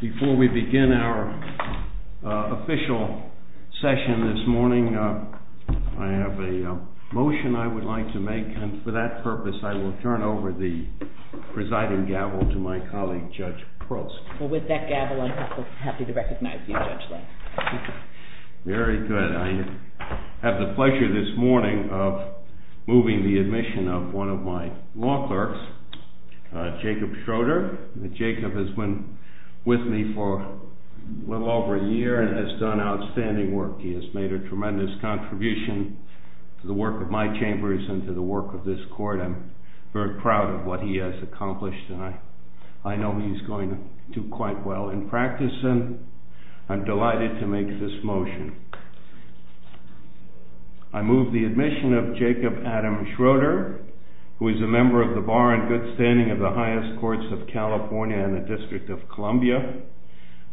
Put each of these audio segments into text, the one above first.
Before we begin our official session this morning, I have a motion I would like to make, and for that purpose I will turn over the presiding gavel to my colleague, Judge Pearls. Well, with that gavel, I'm happy to recognize you, Judge Lang. Very good. I have the pleasure this morning of moving the admission of one of my law clerks, Jacob Schroeder. Jacob has been with me for a little over a year and has done outstanding work. He has made a tremendous contribution to the work of my chambers and to the work of this court. I'm very proud of what he has accomplished, and I know he's going to do quite well in practice. I'm delighted to make this motion. I move the admission of Jacob Adam Schroeder, who is a member of the Bar and Good Standing of the Highest Courts of California and the District of Columbia.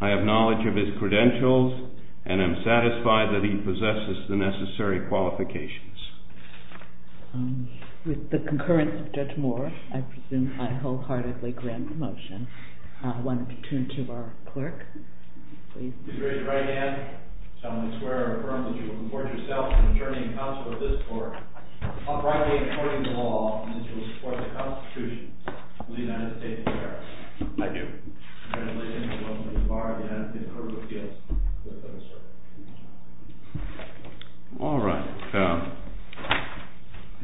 I have knowledge of his credentials and am satisfied that he possesses the necessary qualifications. With the concurrence of Judge Moore, I presume I wholeheartedly grant the motion. I want to turn to our clerk. Please raise your right hand. I solemnly swear and affirm that you will support yourself in adjourning counsel of this court, uprightly according to law, and that you will support the Constitution of the United States of America. I do. Congratulations, and welcome to the Bar of the United States Court of Appeals. All right.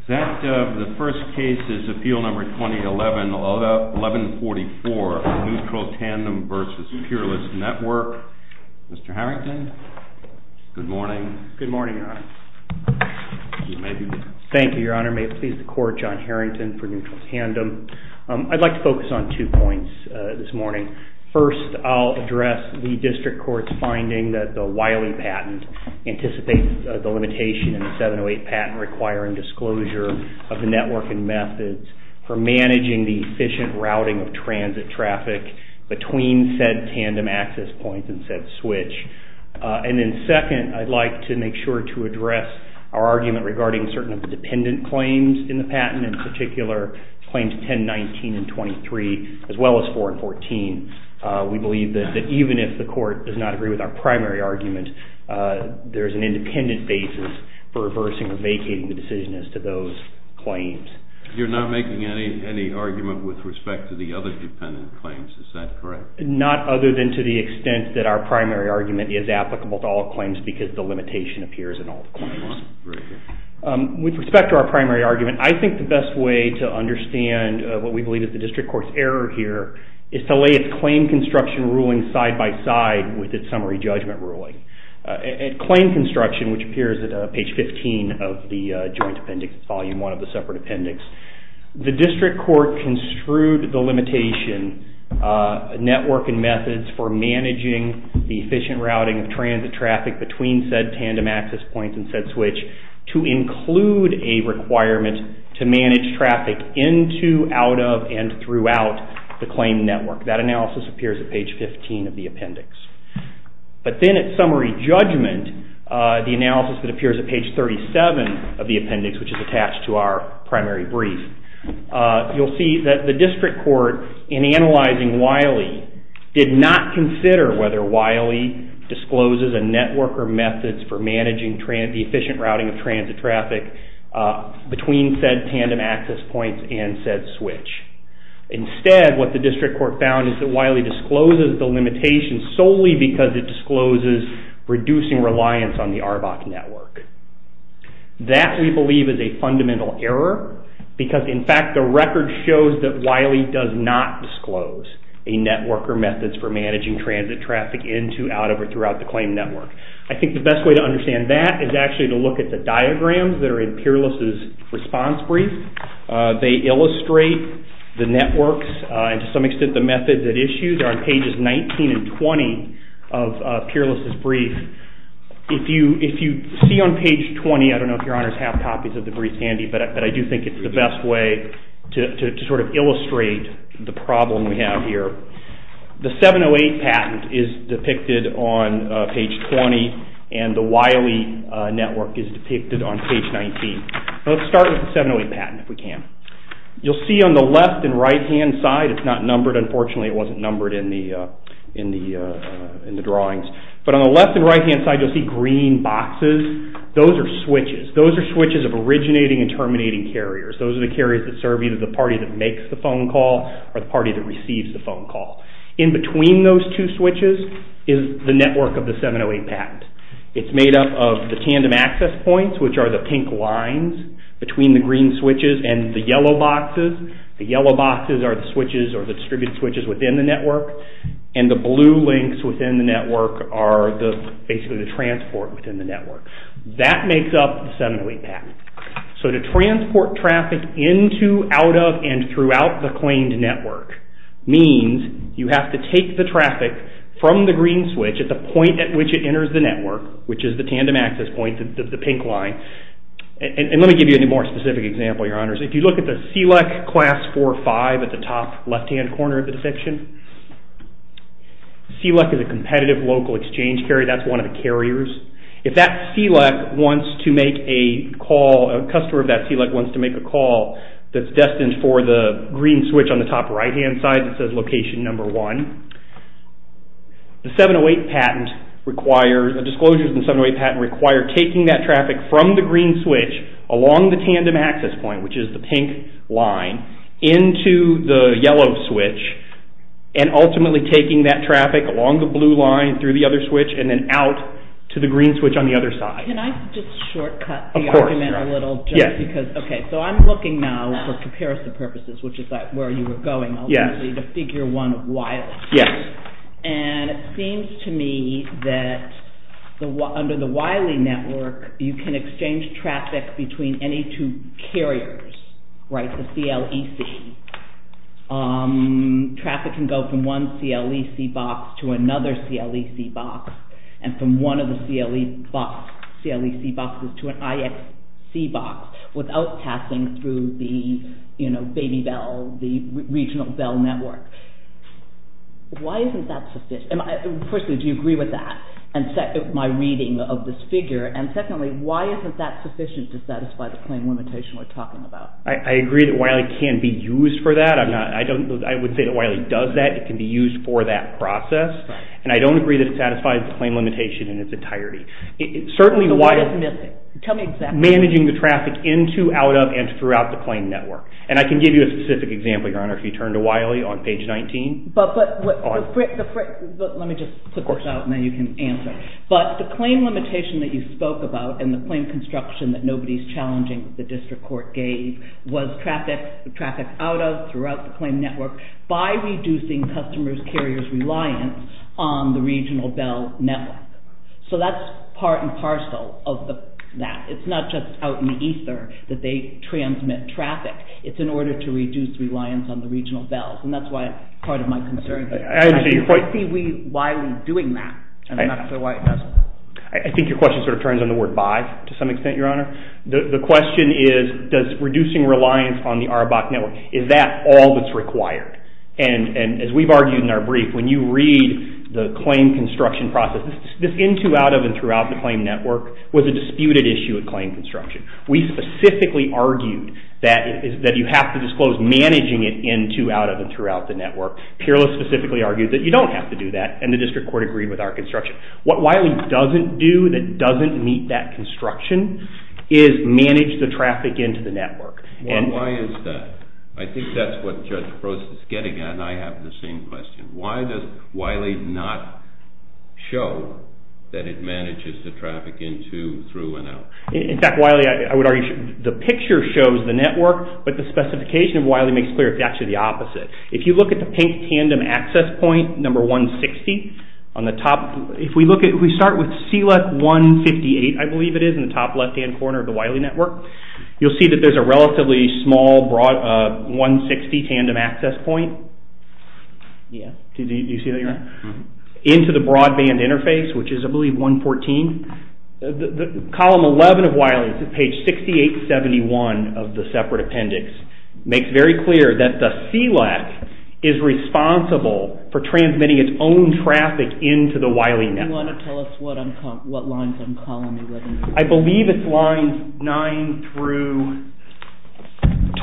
The first case is Appeal Number 2011-1144, Neutral Tandem versus Peerless Network. Mr. Harrington, good morning. Good morning, Your Honor. Thank you, Your Honor. May it please the Court, John Harrington for Neutral Tandem. I'd like to focus on two points this morning. First, I'll address the district court's finding that the Wiley patent anticipates the limitation in the 708 patent requiring disclosure of the network and methods for managing the efficient routing of transit traffic between said tandem access points and said switch. And then second, I'd like to make sure to address our argument regarding certain of the dependent claims in the patent, in particular claims 10, 19, and 23, as well as 4 and 14. We believe that even if the court does not agree with our primary argument, there's an independent basis for reversing or vacating the decision as to those claims. You're not making any argument with respect to the other dependent claims. Is that correct? Not other than to the extent that our primary argument is applicable to all claims because the limitation appears in all the claims. With respect to our primary argument, I think the best way to understand what we believe is the district court's error here is to lay its claim construction ruling side by side with its summary judgment ruling. At claim construction, which appears at page 15 of the joint appendix, volume 1 of the separate appendix, the district court construed the limitation network and methods for managing the efficient routing of transit traffic between said tandem access points and said switch to include a requirement to manage traffic into, out of, and throughout the claim network. That analysis appears at page 15 of the appendix. But then at summary judgment, the analysis that appears at page 37 of the appendix, which is attached to our primary brief, you'll see that the district court, in analyzing Wiley, did not consider whether Wiley discloses a network or methods for managing the efficient routing of transit traffic between said tandem access points and said switch. Instead, what the district court found is that Wiley discloses the limitation solely because it discloses reducing reliance on the ARBOC network. That, we believe, is a fundamental error because, in fact, the record shows that Wiley does not disclose a network or methods for managing transit traffic into, out of, or throughout the claim network. I think the best way to understand that is actually to look at the diagrams that are in Peerless' response brief. They illustrate the networks and, to some extent, the methods at issue. They're on pages 19 and 20 of Peerless' brief. If you see on page 20, I don't know if your honors have copies of the brief handy, but I do think it's the best way to sort of illustrate the problem we have here. The 708 patent is depicted on page 20, and the Wiley network is depicted on page 19. Let's start with the 708 patent, if we can. You'll see on the left and right-hand side, it's not numbered. Unfortunately, it wasn't numbered in the drawings. But on the left and right-hand side, you'll see green boxes. Those are switches. Those are switches of originating and terminating carriers. Those are the carriers that serve either the party that makes the phone call or the party that receives the phone call. In between those two switches is the network of the 708 patent. It's made up of the tandem access points, which are the pink lines between the green switches and the yellow boxes. The yellow boxes are the switches or the distributed switches within the network. And the blue links within the network are basically the transport within the network. That makes up the 708 patent. So to transport traffic into, out of, and throughout the claimed network means you have to take the traffic from the green switch at the point at which it enters the network, which is the tandem access point, the pink line. And let me give you a more specific example, Your Honors. If you look at the CLEC class 45 at the top left-hand corner of the depiction, CLEC is a competitive local exchange carrier. That's one of the carriers. If that CLEC wants to make a call, a customer of that CLEC wants to make a call that's destined for the green switch on the top right-hand side that says location number one, the disclosures in the 708 patent require taking that traffic from the green switch along the tandem access point, which is the pink line, into the yellow switch and ultimately taking that traffic along the blue line through the other switch and then out to the green switch on the other side. Can I just shortcut the argument a little? Yes. Okay, so I'm looking now for comparison purposes, which is where you were going ultimately, to figure one Wiley. Yes. And it seems to me that under the Wiley network, you can exchange traffic between any two carriers, right, the CLEC. Traffic can go from one CLEC box to another CLEC box and from one of the CLEC boxes to an IXC box without passing through the, you know, baby bell, the regional bell network. Why isn't that sufficient? Firstly, do you agree with that, my reading of this figure? And secondly, why isn't that sufficient to satisfy the claim limitation we're talking about? I agree that Wiley can be used for that. I would say that Wiley does that. It can be used for that process. And I don't agree that it satisfies the claim limitation in its entirety. So what is missing? Tell me exactly. Managing the traffic into, out of, and throughout the claim network. And I can give you a specific example, Your Honor, if you turn to Wiley on page 19. But let me just put this out and then you can answer. But the claim limitation that you spoke about and the claim construction that nobody's challenging the district court gave was traffic out of, throughout the claim network by reducing customers' carriers' reliance on the regional bell network. So that's part and parcel of that. It's not just out in ether that they transmit traffic. It's in order to reduce reliance on the regional bells. And that's part of my concern. I see Wiley doing that. And I'm not sure why it doesn't. I think your question sort of turns on the word by, to some extent, Your Honor. The question is, does reducing reliance on the ARABAC network, is that all that's required? And as we've argued in our brief, when you read the claim construction process, this into, out of, and throughout the claim network was a disputed issue at claim construction. We specifically argued that you have to disclose managing it into, out of, and throughout the network. Peerless specifically argued that you don't have to do that. And the district court agreed with our construction. What Wiley doesn't do that doesn't meet that construction is manage the traffic into the network. Why is that? I think that's what Judge Gross is getting at, and I have the same question. Why does Wiley not show that it manages the traffic into, through, and out? In fact, Wiley, I would argue the picture shows the network, but the specification of Wiley makes clear it's actually the opposite. If you look at the pink tandem access point, number 160, on the top, if we look at, if we start with CLEC 158, I believe it is, in the top left-hand corner of the Wiley network, you'll see that there's a relatively small, broad, 160 tandem access point. Yes. Do you see that here? Into the broadband interface, which is, I believe, 114. Column 11 of Wiley, page 6871 of the separate appendix, makes very clear that the CLEC is responsible for transmitting its own traffic into the Wiley network. Do you want to tell us what lines on column 11 are? I believe it's lines 9 through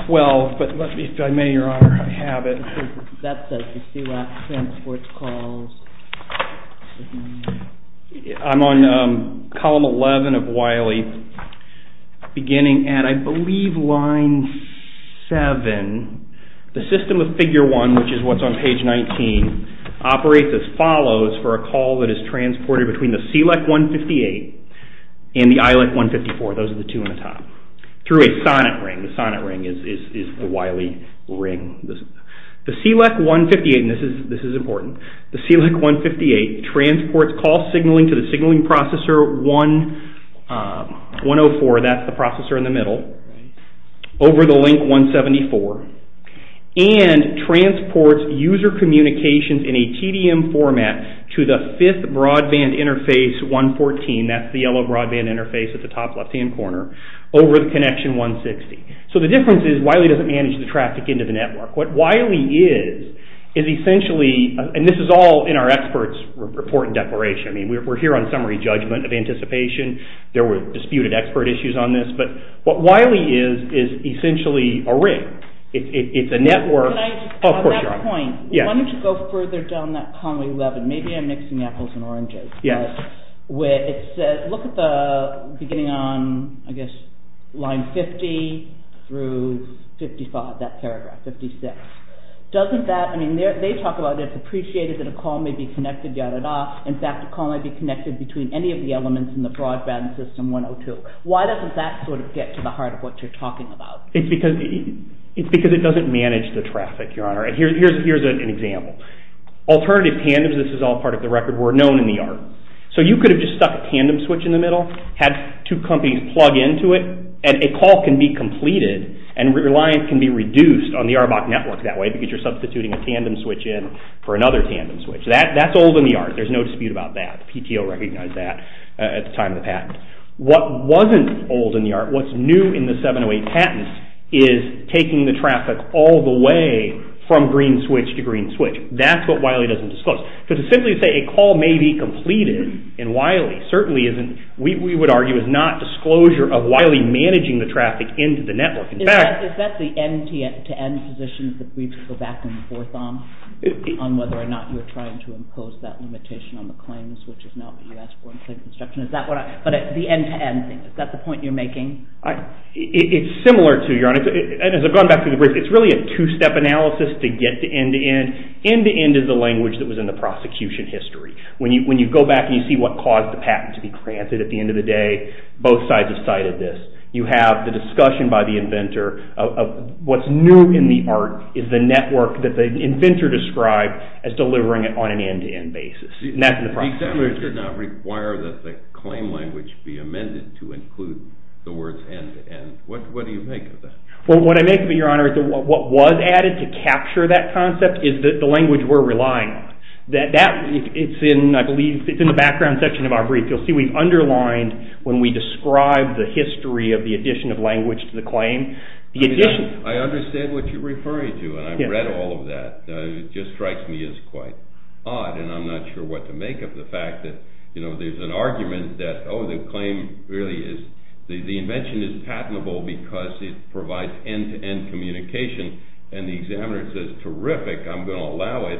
12, but let me, if I may, Your Honor, have it. That says the CLEC transports calls. I'm on column 11 of Wiley, beginning at, I believe, line 7. The system of figure 1, which is what's on page 19, operates as follows for a call that is transported between the CLEC 158 and the ILEC 154. Those are the two on the top, through a sonnet ring. The sonnet ring is the Wiley ring. The CLEC 158, and this is important, the CLEC 158 transports call signaling to the signaling processor 104, that's the processor in the middle, over the link 174, and transports user communications in a TDM format to the fifth broadband interface 114, that's the yellow broadband interface at the top left-hand corner, over the connection 160. So the difference is Wiley doesn't manage the traffic into the network. What Wiley is, is essentially, and this is all in our expert's report and declaration. I mean, we're here on summary judgment of anticipation. There were disputed expert issues on this, but what Wiley is, is essentially a ring. It's a network. At that point, why don't you go further down that column 11. Maybe I'm mixing apples and oranges. Yes. Where it says, look at the beginning on, I guess, line 50 through 55, that paragraph, 56. Doesn't that, I mean, they talk about, it's appreciated that a call may be connected, da, da, da. In fact, a call may be connected between any of the elements in the broadband system 102. Why doesn't that sort of get to the heart of what you're talking about? It's because it doesn't manage the traffic, Your Honor. Here's an example. Alternative tandems, this is all part of the record, were known in the art. So you could have just stuck a tandem switch in the middle, had two companies plug into it, and a call can be completed and reliance can be reduced on the ARBOC network that way because you're substituting a tandem switch in for another tandem switch. That's old in the art. There's no dispute about that. PTO recognized that at the time of the patent. What wasn't old in the art, what's new in the 708 patent, is taking the traffic all the way from green switch to green switch. That's what Wiley doesn't disclose. So to simply say a call may be completed in Wiley certainly isn't, we would argue is not disclosure of Wiley managing the traffic into the network. Is that the end-to-end position that the briefs go back and forth on, on whether or not you're trying to impose that limitation on the claims, which is not what you asked for in claim construction? But the end-to-end thing, is that the point you're making? It's similar to, Your Honor, and as I've gone back through the brief, it's really a two-step analysis to get to end-to-end. End-to-end is the language that was in the prosecution history. When you go back and you see what caused the patent to be granted, at the end of the day, both sides have cited this. You have the discussion by the inventor of what's new in the art is the network that the inventor described as delivering it on an end-to-end basis. And that's in the prosecution history. The examiner did not require that the claim language be amended to include the words end-to-end. What do you make of that? What I make of it, Your Honor, is that what was added to capture that concept is the language we're relying on. It's in, I believe, it's in the background section of our brief. You'll see we've underlined, when we describe the history of the addition of language to the claim, the addition. I understand what you're referring to, and I've read all of that. It just strikes me as quite odd, and I'm not sure what to make of the fact that there's an argument that, oh, the claim really is, the invention is patentable because it provides end-to-end communication, and the examiner says, terrific, I'm going to allow it.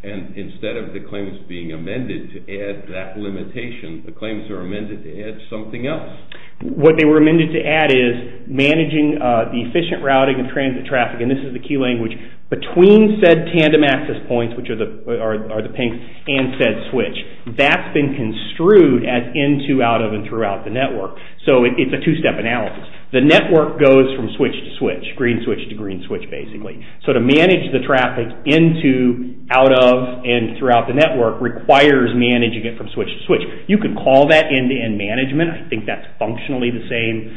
And instead of the claims being amended to add that limitation, the claims are amended to add something else. What they were amended to add is managing the efficient routing of transit traffic, and this is the key language, between said tandem access points, which are the pink, and said switch. That's been construed as into, out of, and throughout the network. So it's a two-step analysis. The network goes from switch to switch, green switch to green switch, basically. So to manage the traffic into, out of, and throughout the network requires managing it from switch to switch. You could call that end-to-end management. I think that's functionally the same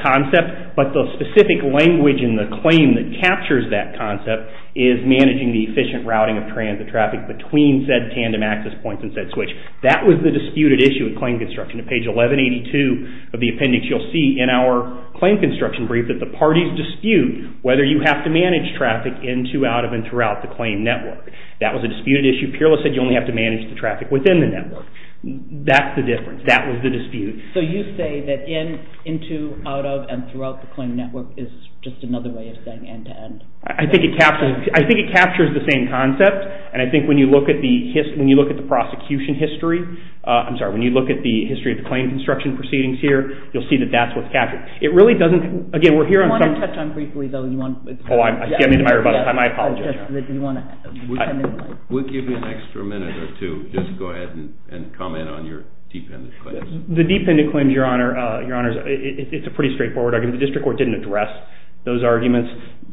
concept, but the specific language in the claim that captures that concept is managing the efficient routing of transit traffic between said tandem access points and said switch. That was the disputed issue in claim construction. On page 1182 of the appendix, you'll see in our claim construction brief that the parties dispute whether you have to manage traffic into, out of, and throughout the claim network. That was a disputed issue. PIRLA said you only have to manage the traffic within the network. That's the difference. That was the dispute. So you say that into, out of, and throughout the claim network is just another way of saying end-to-end. I think it captures the same concept, and I think when you look at the prosecution history, I'm sorry, when you look at the history of the claim construction proceedings here, you'll see that that's what's captured. It really doesn't, again, we're here on some... I want to touch on briefly, though. Oh, I'm getting into my rebuttal time. I apologize. We'll give you an extra minute or two. Just go ahead and comment on your dependent claims. The dependent claims, Your Honor, it's a pretty straightforward argument. The district court didn't address those arguments.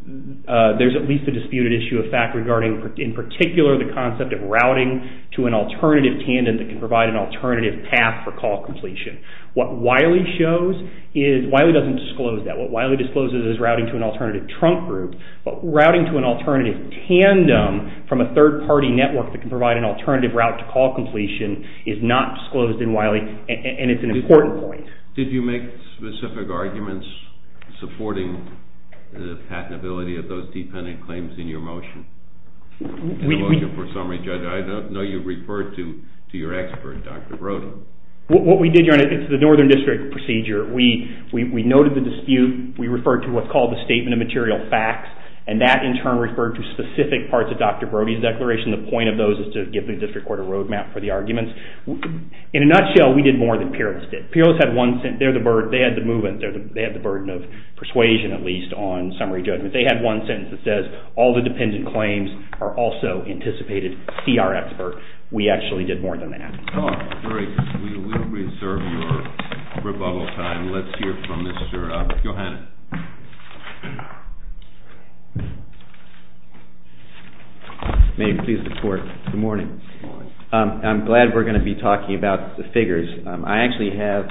There's at least a disputed issue of fact regarding, in particular, the concept of routing to an alternative tandem that can provide an alternative path for call completion. What Wiley shows is... Wiley doesn't disclose that. What Wiley discloses is routing to an alternative trunk group, but routing to an alternative tandem from a third-party network that can provide an alternative route to call completion is not disclosed in Wiley, and it's an important point. Did you make specific arguments supporting the patentability of those dependent claims in your motion? In the motion for summary. Judge, I know you referred to your expert, Dr. Brody. What we did, Your Honor, it's the northern district procedure. We noted the dispute. We referred to what's called the statement of material facts, and that in turn referred to specific parts of Dr. Brody's declaration. The point of those is to give the district court a road map for the arguments. In a nutshell, we did more than Peerless did. Peerless had one sentence. They had the movement. They had the burden of persuasion, at least, on summary judgment. They had one sentence that says all the dependent claims are also anticipated CR expert. We actually did more than that. We will reserve your rebuttal time. Let's hear from Mr. Gohannan. May I please report? Good morning. Good morning. I'm glad we're going to be talking about the figures. I actually have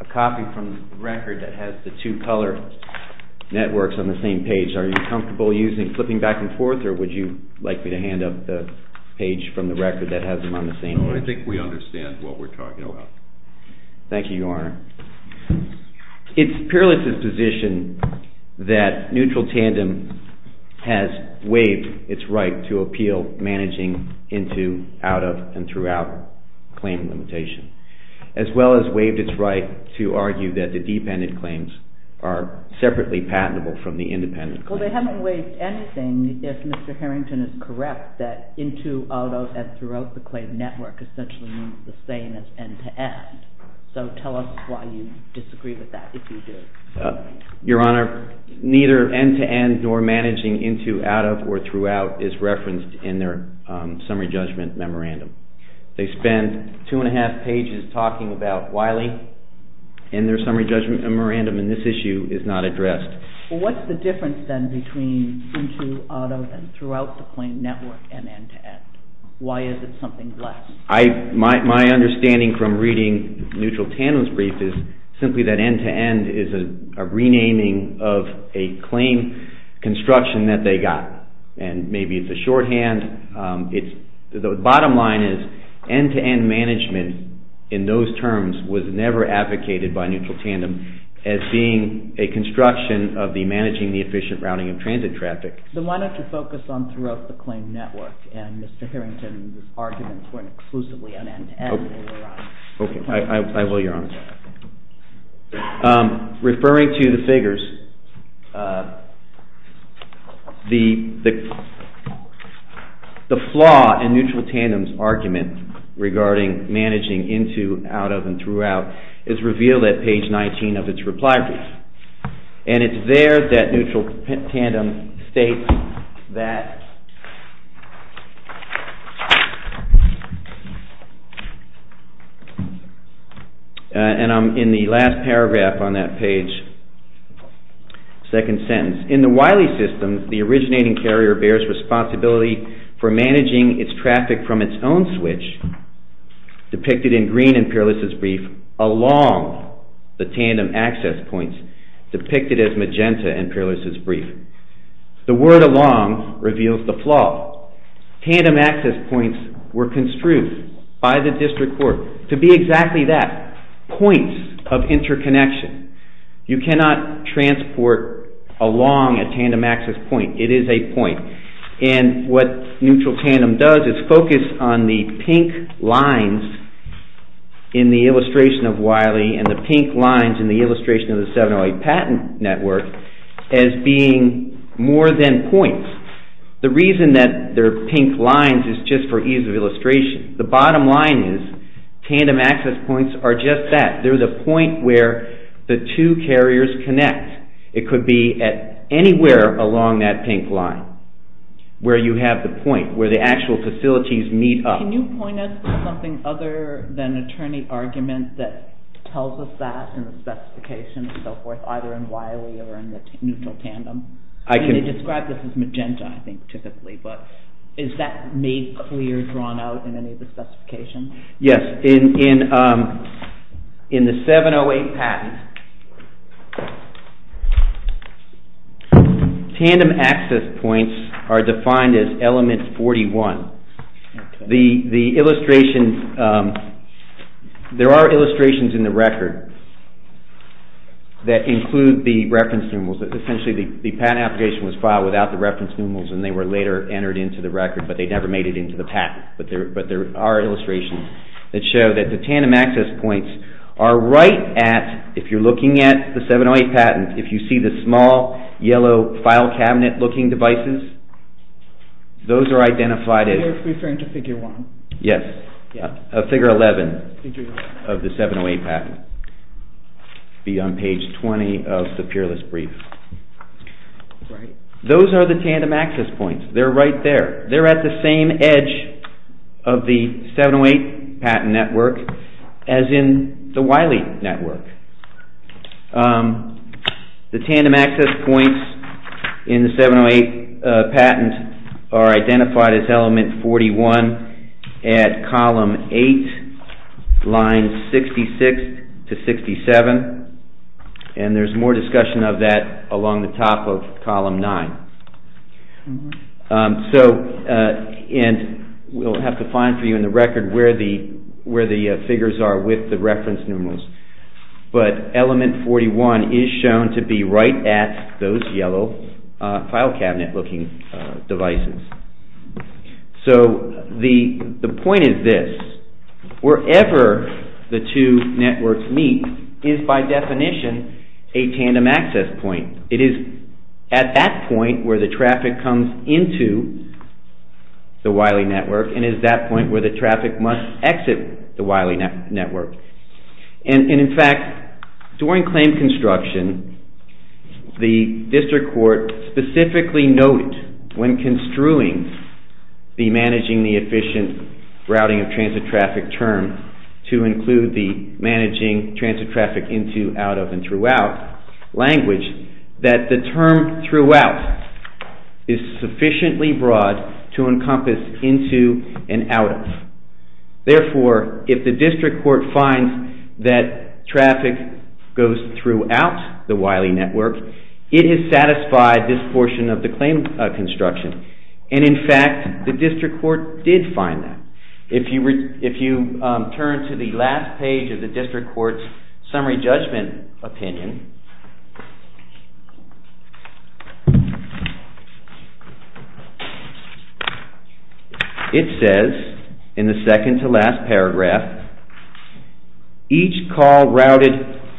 a copy from the record that has the two color networks on the same page. Are you comfortable flipping back and forth, or would you like me to hand up the page from the record that has them on the same page? I think we understand what we're talking about. Thank you, Your Honor. It's Peerless' position that neutral tandem has waived its right to appeal managing into, out of, and throughout claim limitation, as well as waived its right to argue that the dependent claims are separately patentable from the independent claims. Well, they haven't waived anything if Mr. Harrington is correct that into, out of, and throughout the claim network essentially means the same as end-to-end. So tell us why you disagree with that, if you do. Your Honor, neither end-to-end nor managing into, out of, or throughout is referenced in their summary judgment memorandum. They spend two and a half pages talking about Wiley and their summary judgment memorandum in this issue is not addressed. Well, what's the difference then between into, out of, and throughout the claim network and end-to-end? Why is it something less? My understanding from reading neutral tandem's brief is simply that end-to-end is a renaming of a claim construction that they got, and maybe it's a shorthand. The bottom line is end-to-end management in those terms was never advocated by neutral tandem as being a construction of the managing the efficient routing of transit traffic. Then why don't you focus on throughout the claim network, and Mr. Harrington's arguments weren't exclusively on end-to-end. Okay, I will, Your Honor. Referring to the figures, the flaw in neutral tandem's argument regarding managing into, out of, and throughout is revealed at page 19 of its reply brief, and it's there that neutral tandem states that, and I'm in the last paragraph on that page, second sentence, in the Wiley system, the originating carrier bears responsibility for managing its traffic from its own switch, depicted in green in Peerless' brief, along the tandem access points, depicted as magenta in Peerless' brief. The word along reveals the flaw. Tandem access points were construed by the district court to be exactly that, points of interconnection. You cannot transport along a tandem access point. It is a point, and what neutral tandem does is focus on the pink lines in the illustration of Wiley and the pink lines in the illustration of the 708 patent network as being more than points. The reason that they're pink lines is just for ease of illustration. The bottom line is tandem access points are just that. They're the point where the two carriers connect. It could be anywhere along that pink line where you have the point, where the actual facilities meet up. Can you point us to something other than attorney argument that tells us that in the specification and so forth, either in Wiley or in the neutral tandem? They describe this as magenta, I think, typically, but is that made clear, drawn out in any of the specifications? Yes, in the 708 patent, tandem access points are defined as element 41. There are illustrations in the record that include the reference numerals. Essentially, the patent application was filed without the reference numerals and they were later entered into the record, but they never made it into the patent. But there are illustrations that show that the tandem access points are right at, if you're looking at the 708 patent, if you see the small yellow file cabinet looking devices, those are identified as figure 11 of the 708 patent. It would be on page 20 of the peerless brief. Those are the tandem access points. They're right there. They're at the same edge of the 708 patent network as in the Wiley network. The tandem access points in the 708 patent are identified as element 41 at column 8, lines 66 to 67, and there's more discussion of that along the top of column 9. We'll have to find for you in the record where the figures are with the reference numerals. But element 41 is shown to be right at those yellow file cabinet looking devices. So the point is this. Wherever the two networks meet is by definition a tandem access point. It is at that point where the traffic comes into the Wiley network and is that point where the traffic must exit the Wiley network. In fact, during claim construction, the district court specifically noted when construing the managing the efficient routing of transit traffic term to include the managing transit traffic into, out of, and throughout language, that the term throughout is sufficiently broad to encompass into and out of. Therefore, if the district court finds that traffic goes throughout the Wiley network, it has satisfied this portion of the claim construction. And in fact, the district court did find that. If you turn to the last page of the district court's summary judgment opinion, it says in the second to last paragraph, each call routed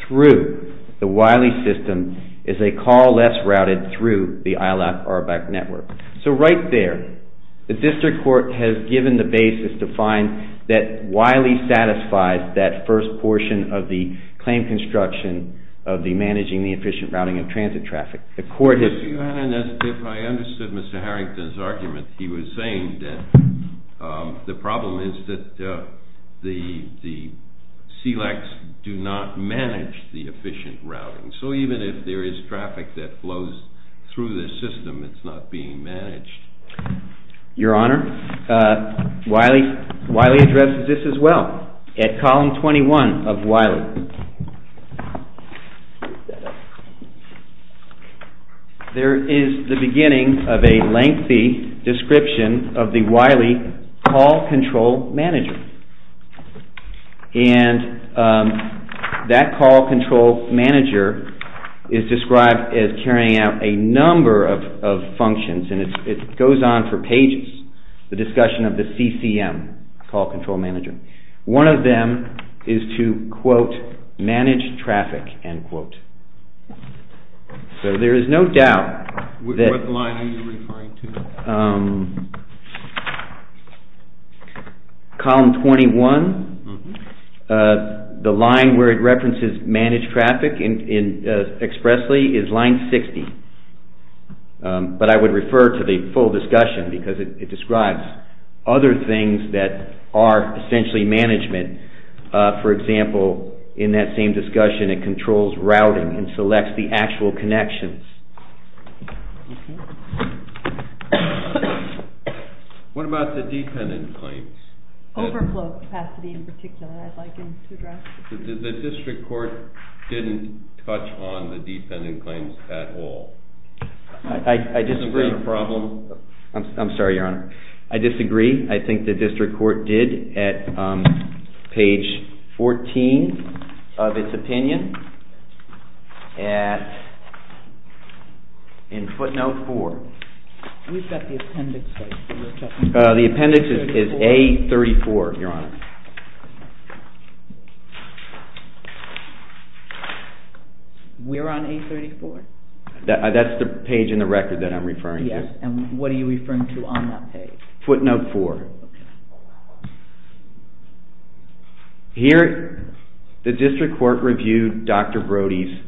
through the Wiley system is a call less routed through the ILAP RBAC network. So right there, the district court has given the basis to find that Wiley satisfies that first portion of the claim construction of the managing the efficient routing of transit traffic. If I understood Mr. Harrington's argument, he was saying that the problem is that the SELEX do not manage the efficient routing. So even if there is traffic that flows through this system, it's not being managed. Your Honor, Wiley addresses this as well. At column 21 of Wiley, there is the beginning of a lengthy description of the Wiley call control manager. And that call control manager is described as carrying out a number of functions, and it goes on for pages, the discussion of the CCM, call control manager. One of them is to, quote, manage traffic, end quote. So there is no doubt that... What line are you referring to? Column 21, the line where it references managed traffic expressly is line 60. But I would refer to the full discussion because it describes other things that are essentially management. For example, in that same discussion, it controls routing and selects the actual connections. What about the dependent claims? Overflow capacity in particular, I'd like him to address. The district court didn't touch on the dependent claims at all. I disagree. I'm sorry, Your Honor. I disagree. I think the district court did at page 14 of its opinion in footnote 4. We've got the appendix. The appendix is A34, Your Honor. We're on A34? That's the page in the record that I'm referring to. And what are you referring to on that page? Footnote 4. Here, the district court reviewed Dr. Brody's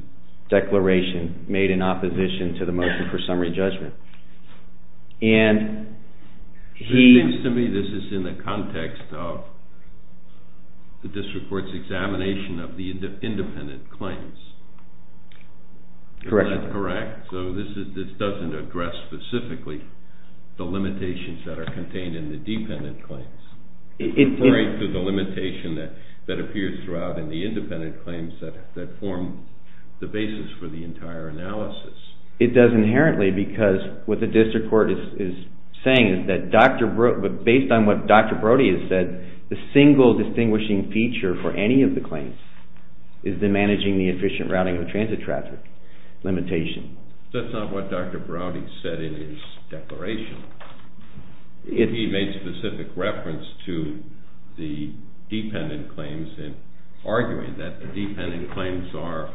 declaration made in opposition to the motion for summary judgment. It seems to me this is in the context of the district court's examination of the independent claims. This doesn't address specifically the limitations that are contained in the dependent claims. The limitation that appears throughout in the independent claims that form the basis for the entire analysis. It does inherently because what the district court is saying is that based on what Dr. Brody has said, the single distinguishing feature for any of the claims is the managing the efficient routing of transit traffic limitation. That's not what Dr. Brody said in his declaration. He made specific reference to the dependent claims in arguing that the dependent claims are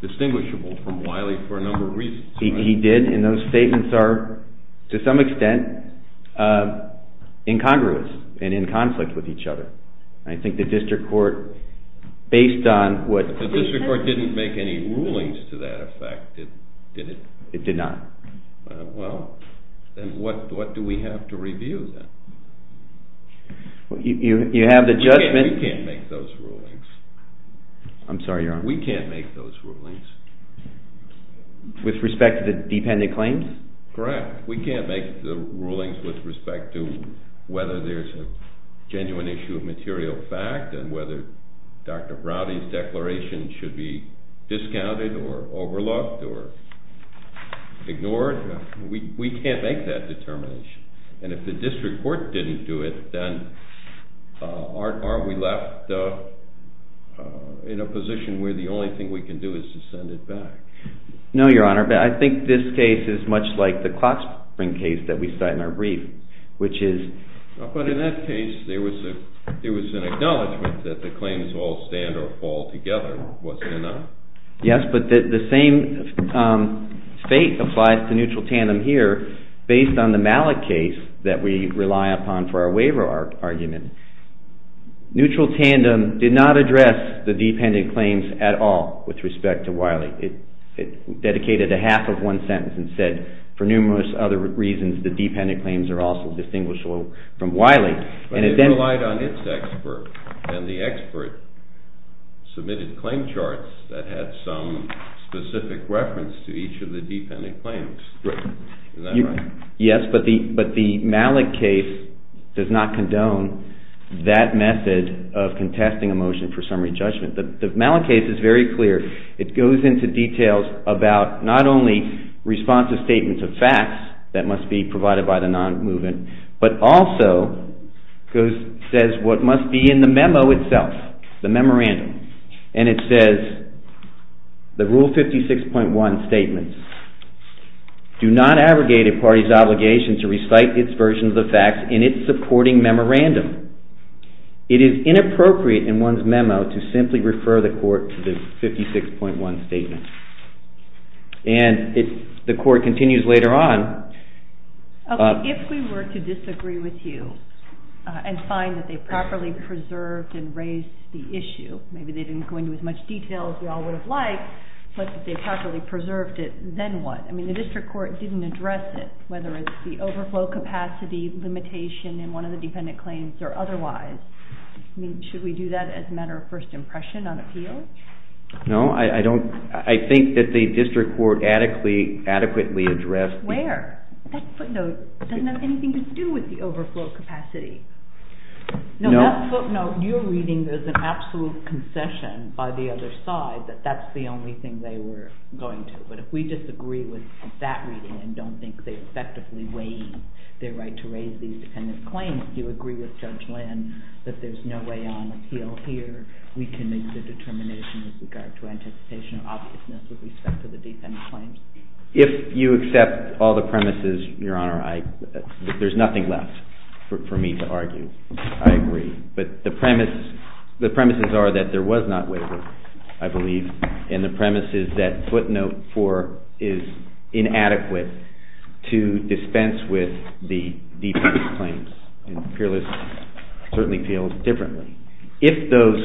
distinguishable from Wiley for a number of reasons. He did, and those statements are to some extent incongruous and in conflict with each other. I think the district court based on what... The district court didn't make any rulings to that effect, did it? It did not. Well, then what do we have to review then? You have the judgment... We can't make those rulings. I'm sorry, Your Honor. We can't make those rulings. With respect to the dependent claims? Correct. We can't make the rulings with respect to whether there's a genuine issue of material fact and whether Dr. Brody's declaration should be discounted or overlooked or ignored. We can't make that determination. And if the district court didn't do it, then are we left in a position where the only thing we can do is to send it back? No, Your Honor, but I think this case is much like the clock spring case that we cite in our brief, which is... But in that case, there was an acknowledgement that the claims all stand or fall together. Was there not? Yes, but the same fate applies to neutral tandem here based on the Malik case that we rely upon for our waiver argument. Neutral tandem did not address the dependent claims at all with respect to Wiley. It dedicated a half of one sentence and said, for numerous other reasons, the dependent claims are also distinguished from Wiley. But it relied on its expert, and the expert submitted claim charts that had some specific reference to each of the dependent claims. Is that right? Yes, but the Malik case does not condone that method of contesting a motion for summary judgment. The Malik case is very clear. It goes into details about not only responsive statements of facts that must be provided by the non-movement, but also says what must be in the memo itself, the memorandum. And it says the full 56.1 statements do not abrogate a party's obligation to recite its version of the facts in its supporting memorandum. It is inappropriate in one's memo to simply refer the court to the 56.1 statement. And the court continues later on. If we were to disagree with you and find that they properly preserved and raised the issue, maybe they didn't go into as much detail as we all would have liked, but that they properly preserved it, then what? I mean, the district court didn't address it, whether it's the overflow capacity limitation in one of the dependent claims or otherwise. Should we do that as a matter of first impression on appeal? No, I think that the district court adequately addressed Where? That footnote doesn't have anything to do with the overflow capacity. No, that footnote you're reading is an understatement. I mean, I think that the district court I mean, I think that the district court adequately addressed the issue. If you accept all the premises, Your Honor, there's nothing left for me to argue. I agree. But the premises are that there was not a waiver, I believe, and the premises that footnote for is inadequate to dispense with the dependent claims. Peerless certainly feels differently. If those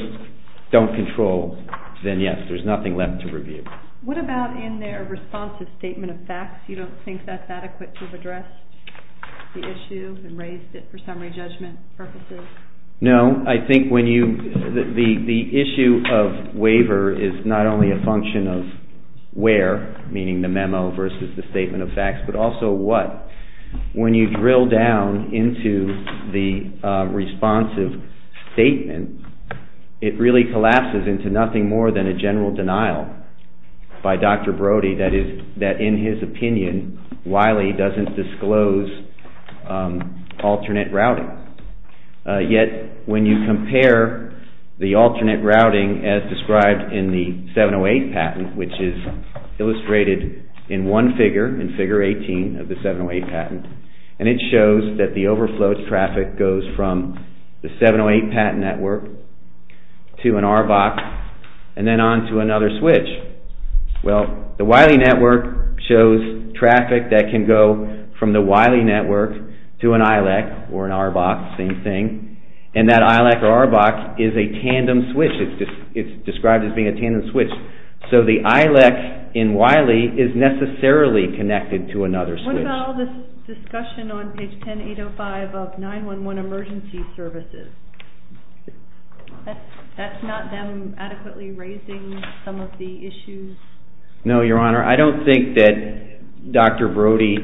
don't control, then yes, there's nothing left to review. What about in their responsive statement of facts? You don't think that's adequate to have addressed the issue and raised it for summary judgment purposes? No, I think when you the issue of waiver is not only a function of where, meaning the memo versus the statement of facts, but also what. When you drill down into the responsive statement, it really collapses into nothing more than a general denial by Dr. Brody that in his opinion Wiley doesn't disclose alternate routing. Yet when you compare the alternate routing as described in the 708 patent, which is illustrated in one figure, in figure 18 of the 708 patent, and it shows that the overflowed traffic goes from the 708 patent network to an RBOC and then on to another switch. Well, the Wiley network shows traffic that can go from the Wiley network to an ILEC or an RBOC, same thing, and that ILEC or RBOC is a tandem switch. It's described as being a tandem switch. So the ILEC in Wiley is necessarily connected to another switch. What about all this discussion on page 10805 of 911 emergency services? That's not them adequately raising some of the issues? No, Your Honor. I don't think that Dr. Brody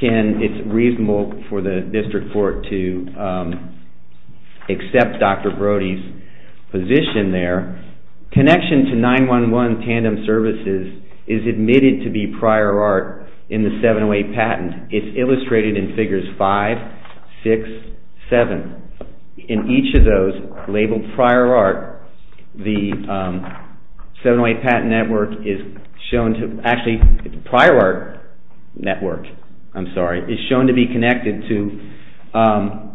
can, it's reasonable for the district court to accept Dr. Brody's position there. Connection to 911 tandem services is admitted to be prior art in the 708 patent. It's illustrated in figures 5, 6, 7. In each of those labeled prior art, the 708 patent network is shown to, actually prior art network, I'm sorry, is shown to be connected to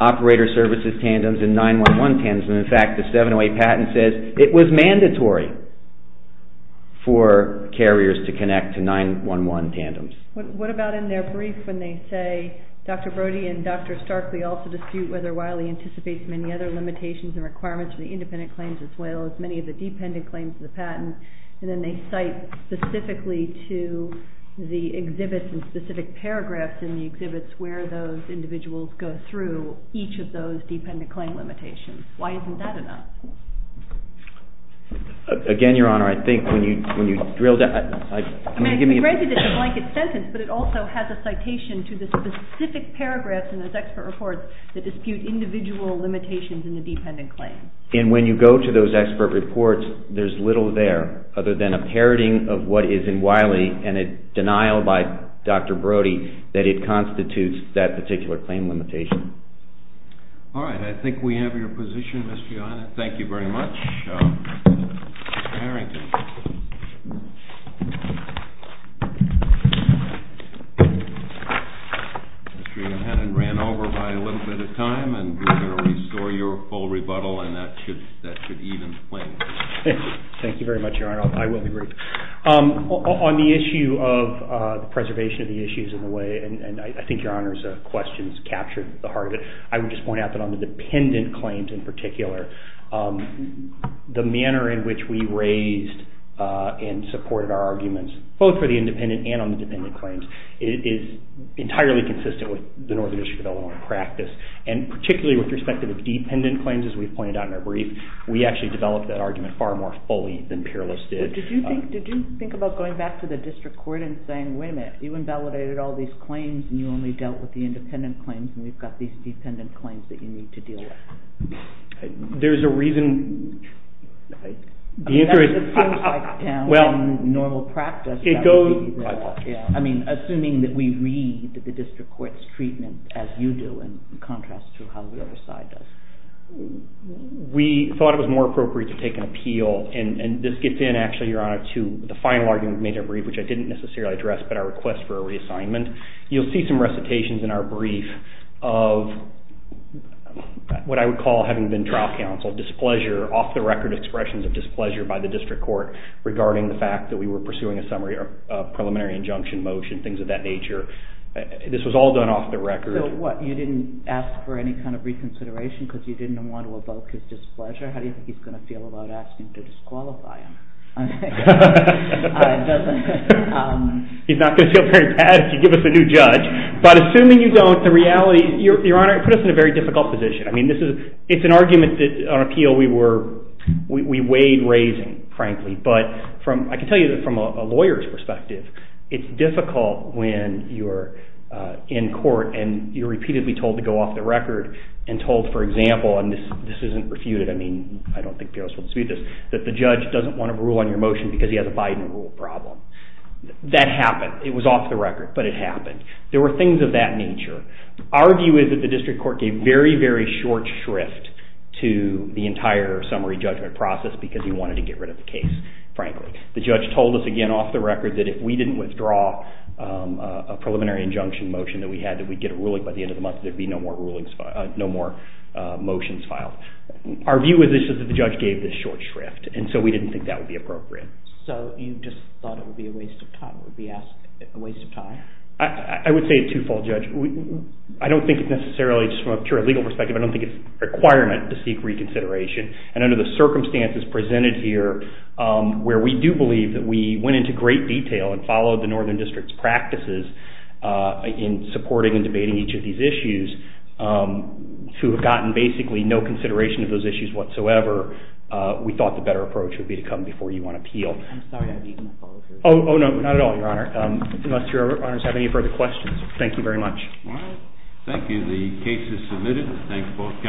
operator services tandems and 911 tandems and in fact the 708 patent says it was mandatory for carriers to connect to 911 tandems. What about in their brief when they say Dr. Brody and Dr. Starkley also dispute whether Wiley anticipates many other limitations and requirements for the independent claims as well as many of the dependent claims of the patent and then they cite specifically to the exhibits and specific paragraphs in the exhibits where those individuals go through each of those dependent claim limitations. Why isn't that enough? Again, Your Honor, I think when you drill down, I'm going to give me a break. But it also has a citation to the specific paragraphs in those expert reports that dispute individual limitations in the dependent claims. And when you go to those expert reports, there's little there other than a parroting of what is in Wiley and a denial by Dr. Brody that it constitutes that particular claim limitation. All right. I think we have your position, Mr. Your Honor. Thank you very much. Mr. Harrington. Mr. Hennon ran over by a little bit of time and we're going to restore your full rebuttal and that should even things. Thank you very much, Your Honor. I will be brief. On the issue of preservation of the issues in a way, and I think Your Honor's questions captured the heart of it, I would just point out that on the dependent claims in particular, the manner in which we raised and supported our arguments, both for the independent and on the dependent claims, is entirely consistent with the Northern District of Illinois practice and particularly with respect to the dependent claims, as we've pointed out in our brief, we actually developed that argument far more fully than peerless did. Did you think about going back to the district court and saying, wait a minute, you invalidated all these claims and you only dealt with the independent claims and we've got these dependent claims that you need to deal with? There's a reason... That's what it sounds like down in normal practice. I mean, assuming that we read the district court's treatment as you do in contrast to how the other side does. We thought it was more appropriate to take an appeal, and this gets in, actually, Your Honor, to the final argument we made in our brief, which I didn't necessarily address, but our request for a reassignment. You'll see some recitations in our brief of what I would call, having been trial counsel, displeasure, off-the-record expressions of displeasure by the district court regarding the fact that we were pursuing a preliminary injunction motion, things of that nature. This was all done off-the-record. You didn't ask for any kind of reconsideration because you didn't want to evoke his displeasure? How do you think he's going to feel about asking to disqualify him? He's not going to feel very bad if you give us a new judge. But assuming you don't, the reality... Your Honor, it put us in a very difficult position. It's an argument that on appeal we weighed raising, frankly, but I can tell you that from a lawyer's perspective, it's difficult when you're in court and you're repeatedly told to go off-the-record and told, for example, and this isn't refuted, I mean, I don't think the others will dispute this, that the judge doesn't want to rule on your motion because he has a Biden rule problem. That happened. It was off-the-record, but it happened. There were things of that nature. Our view is that the district court gave very, very short shrift to the entire summary judgment process because we wanted to get rid of the case, frankly. The judge told us, again, off-the-record that if we didn't withdraw a preliminary injunction motion that we had that we'd get a ruling by the end of the month, there'd be no more motions filed. Our view is that the judge gave this short shrift, and so we didn't think that would be appropriate. So you just thought it would be a waste of time? I would say a two-fold, Judge. I don't think it's necessarily, just from a pure legal perspective, I don't think it's a requirement to seek reconsideration, and under the circumstances presented here, where we do believe that we went into great detail and followed the Northern District's practices in supporting and debating each of these issues, to have gotten basically no consideration of those issues whatsoever, we thought the better approach would be to come before you on appeal. I'm sorry, I didn't mean to follow through. Oh, no, not at all, Your Honor. Unless Your Honors have any further questions, thank you very much. Thank you. The case is submitted. Thanks, both counselors.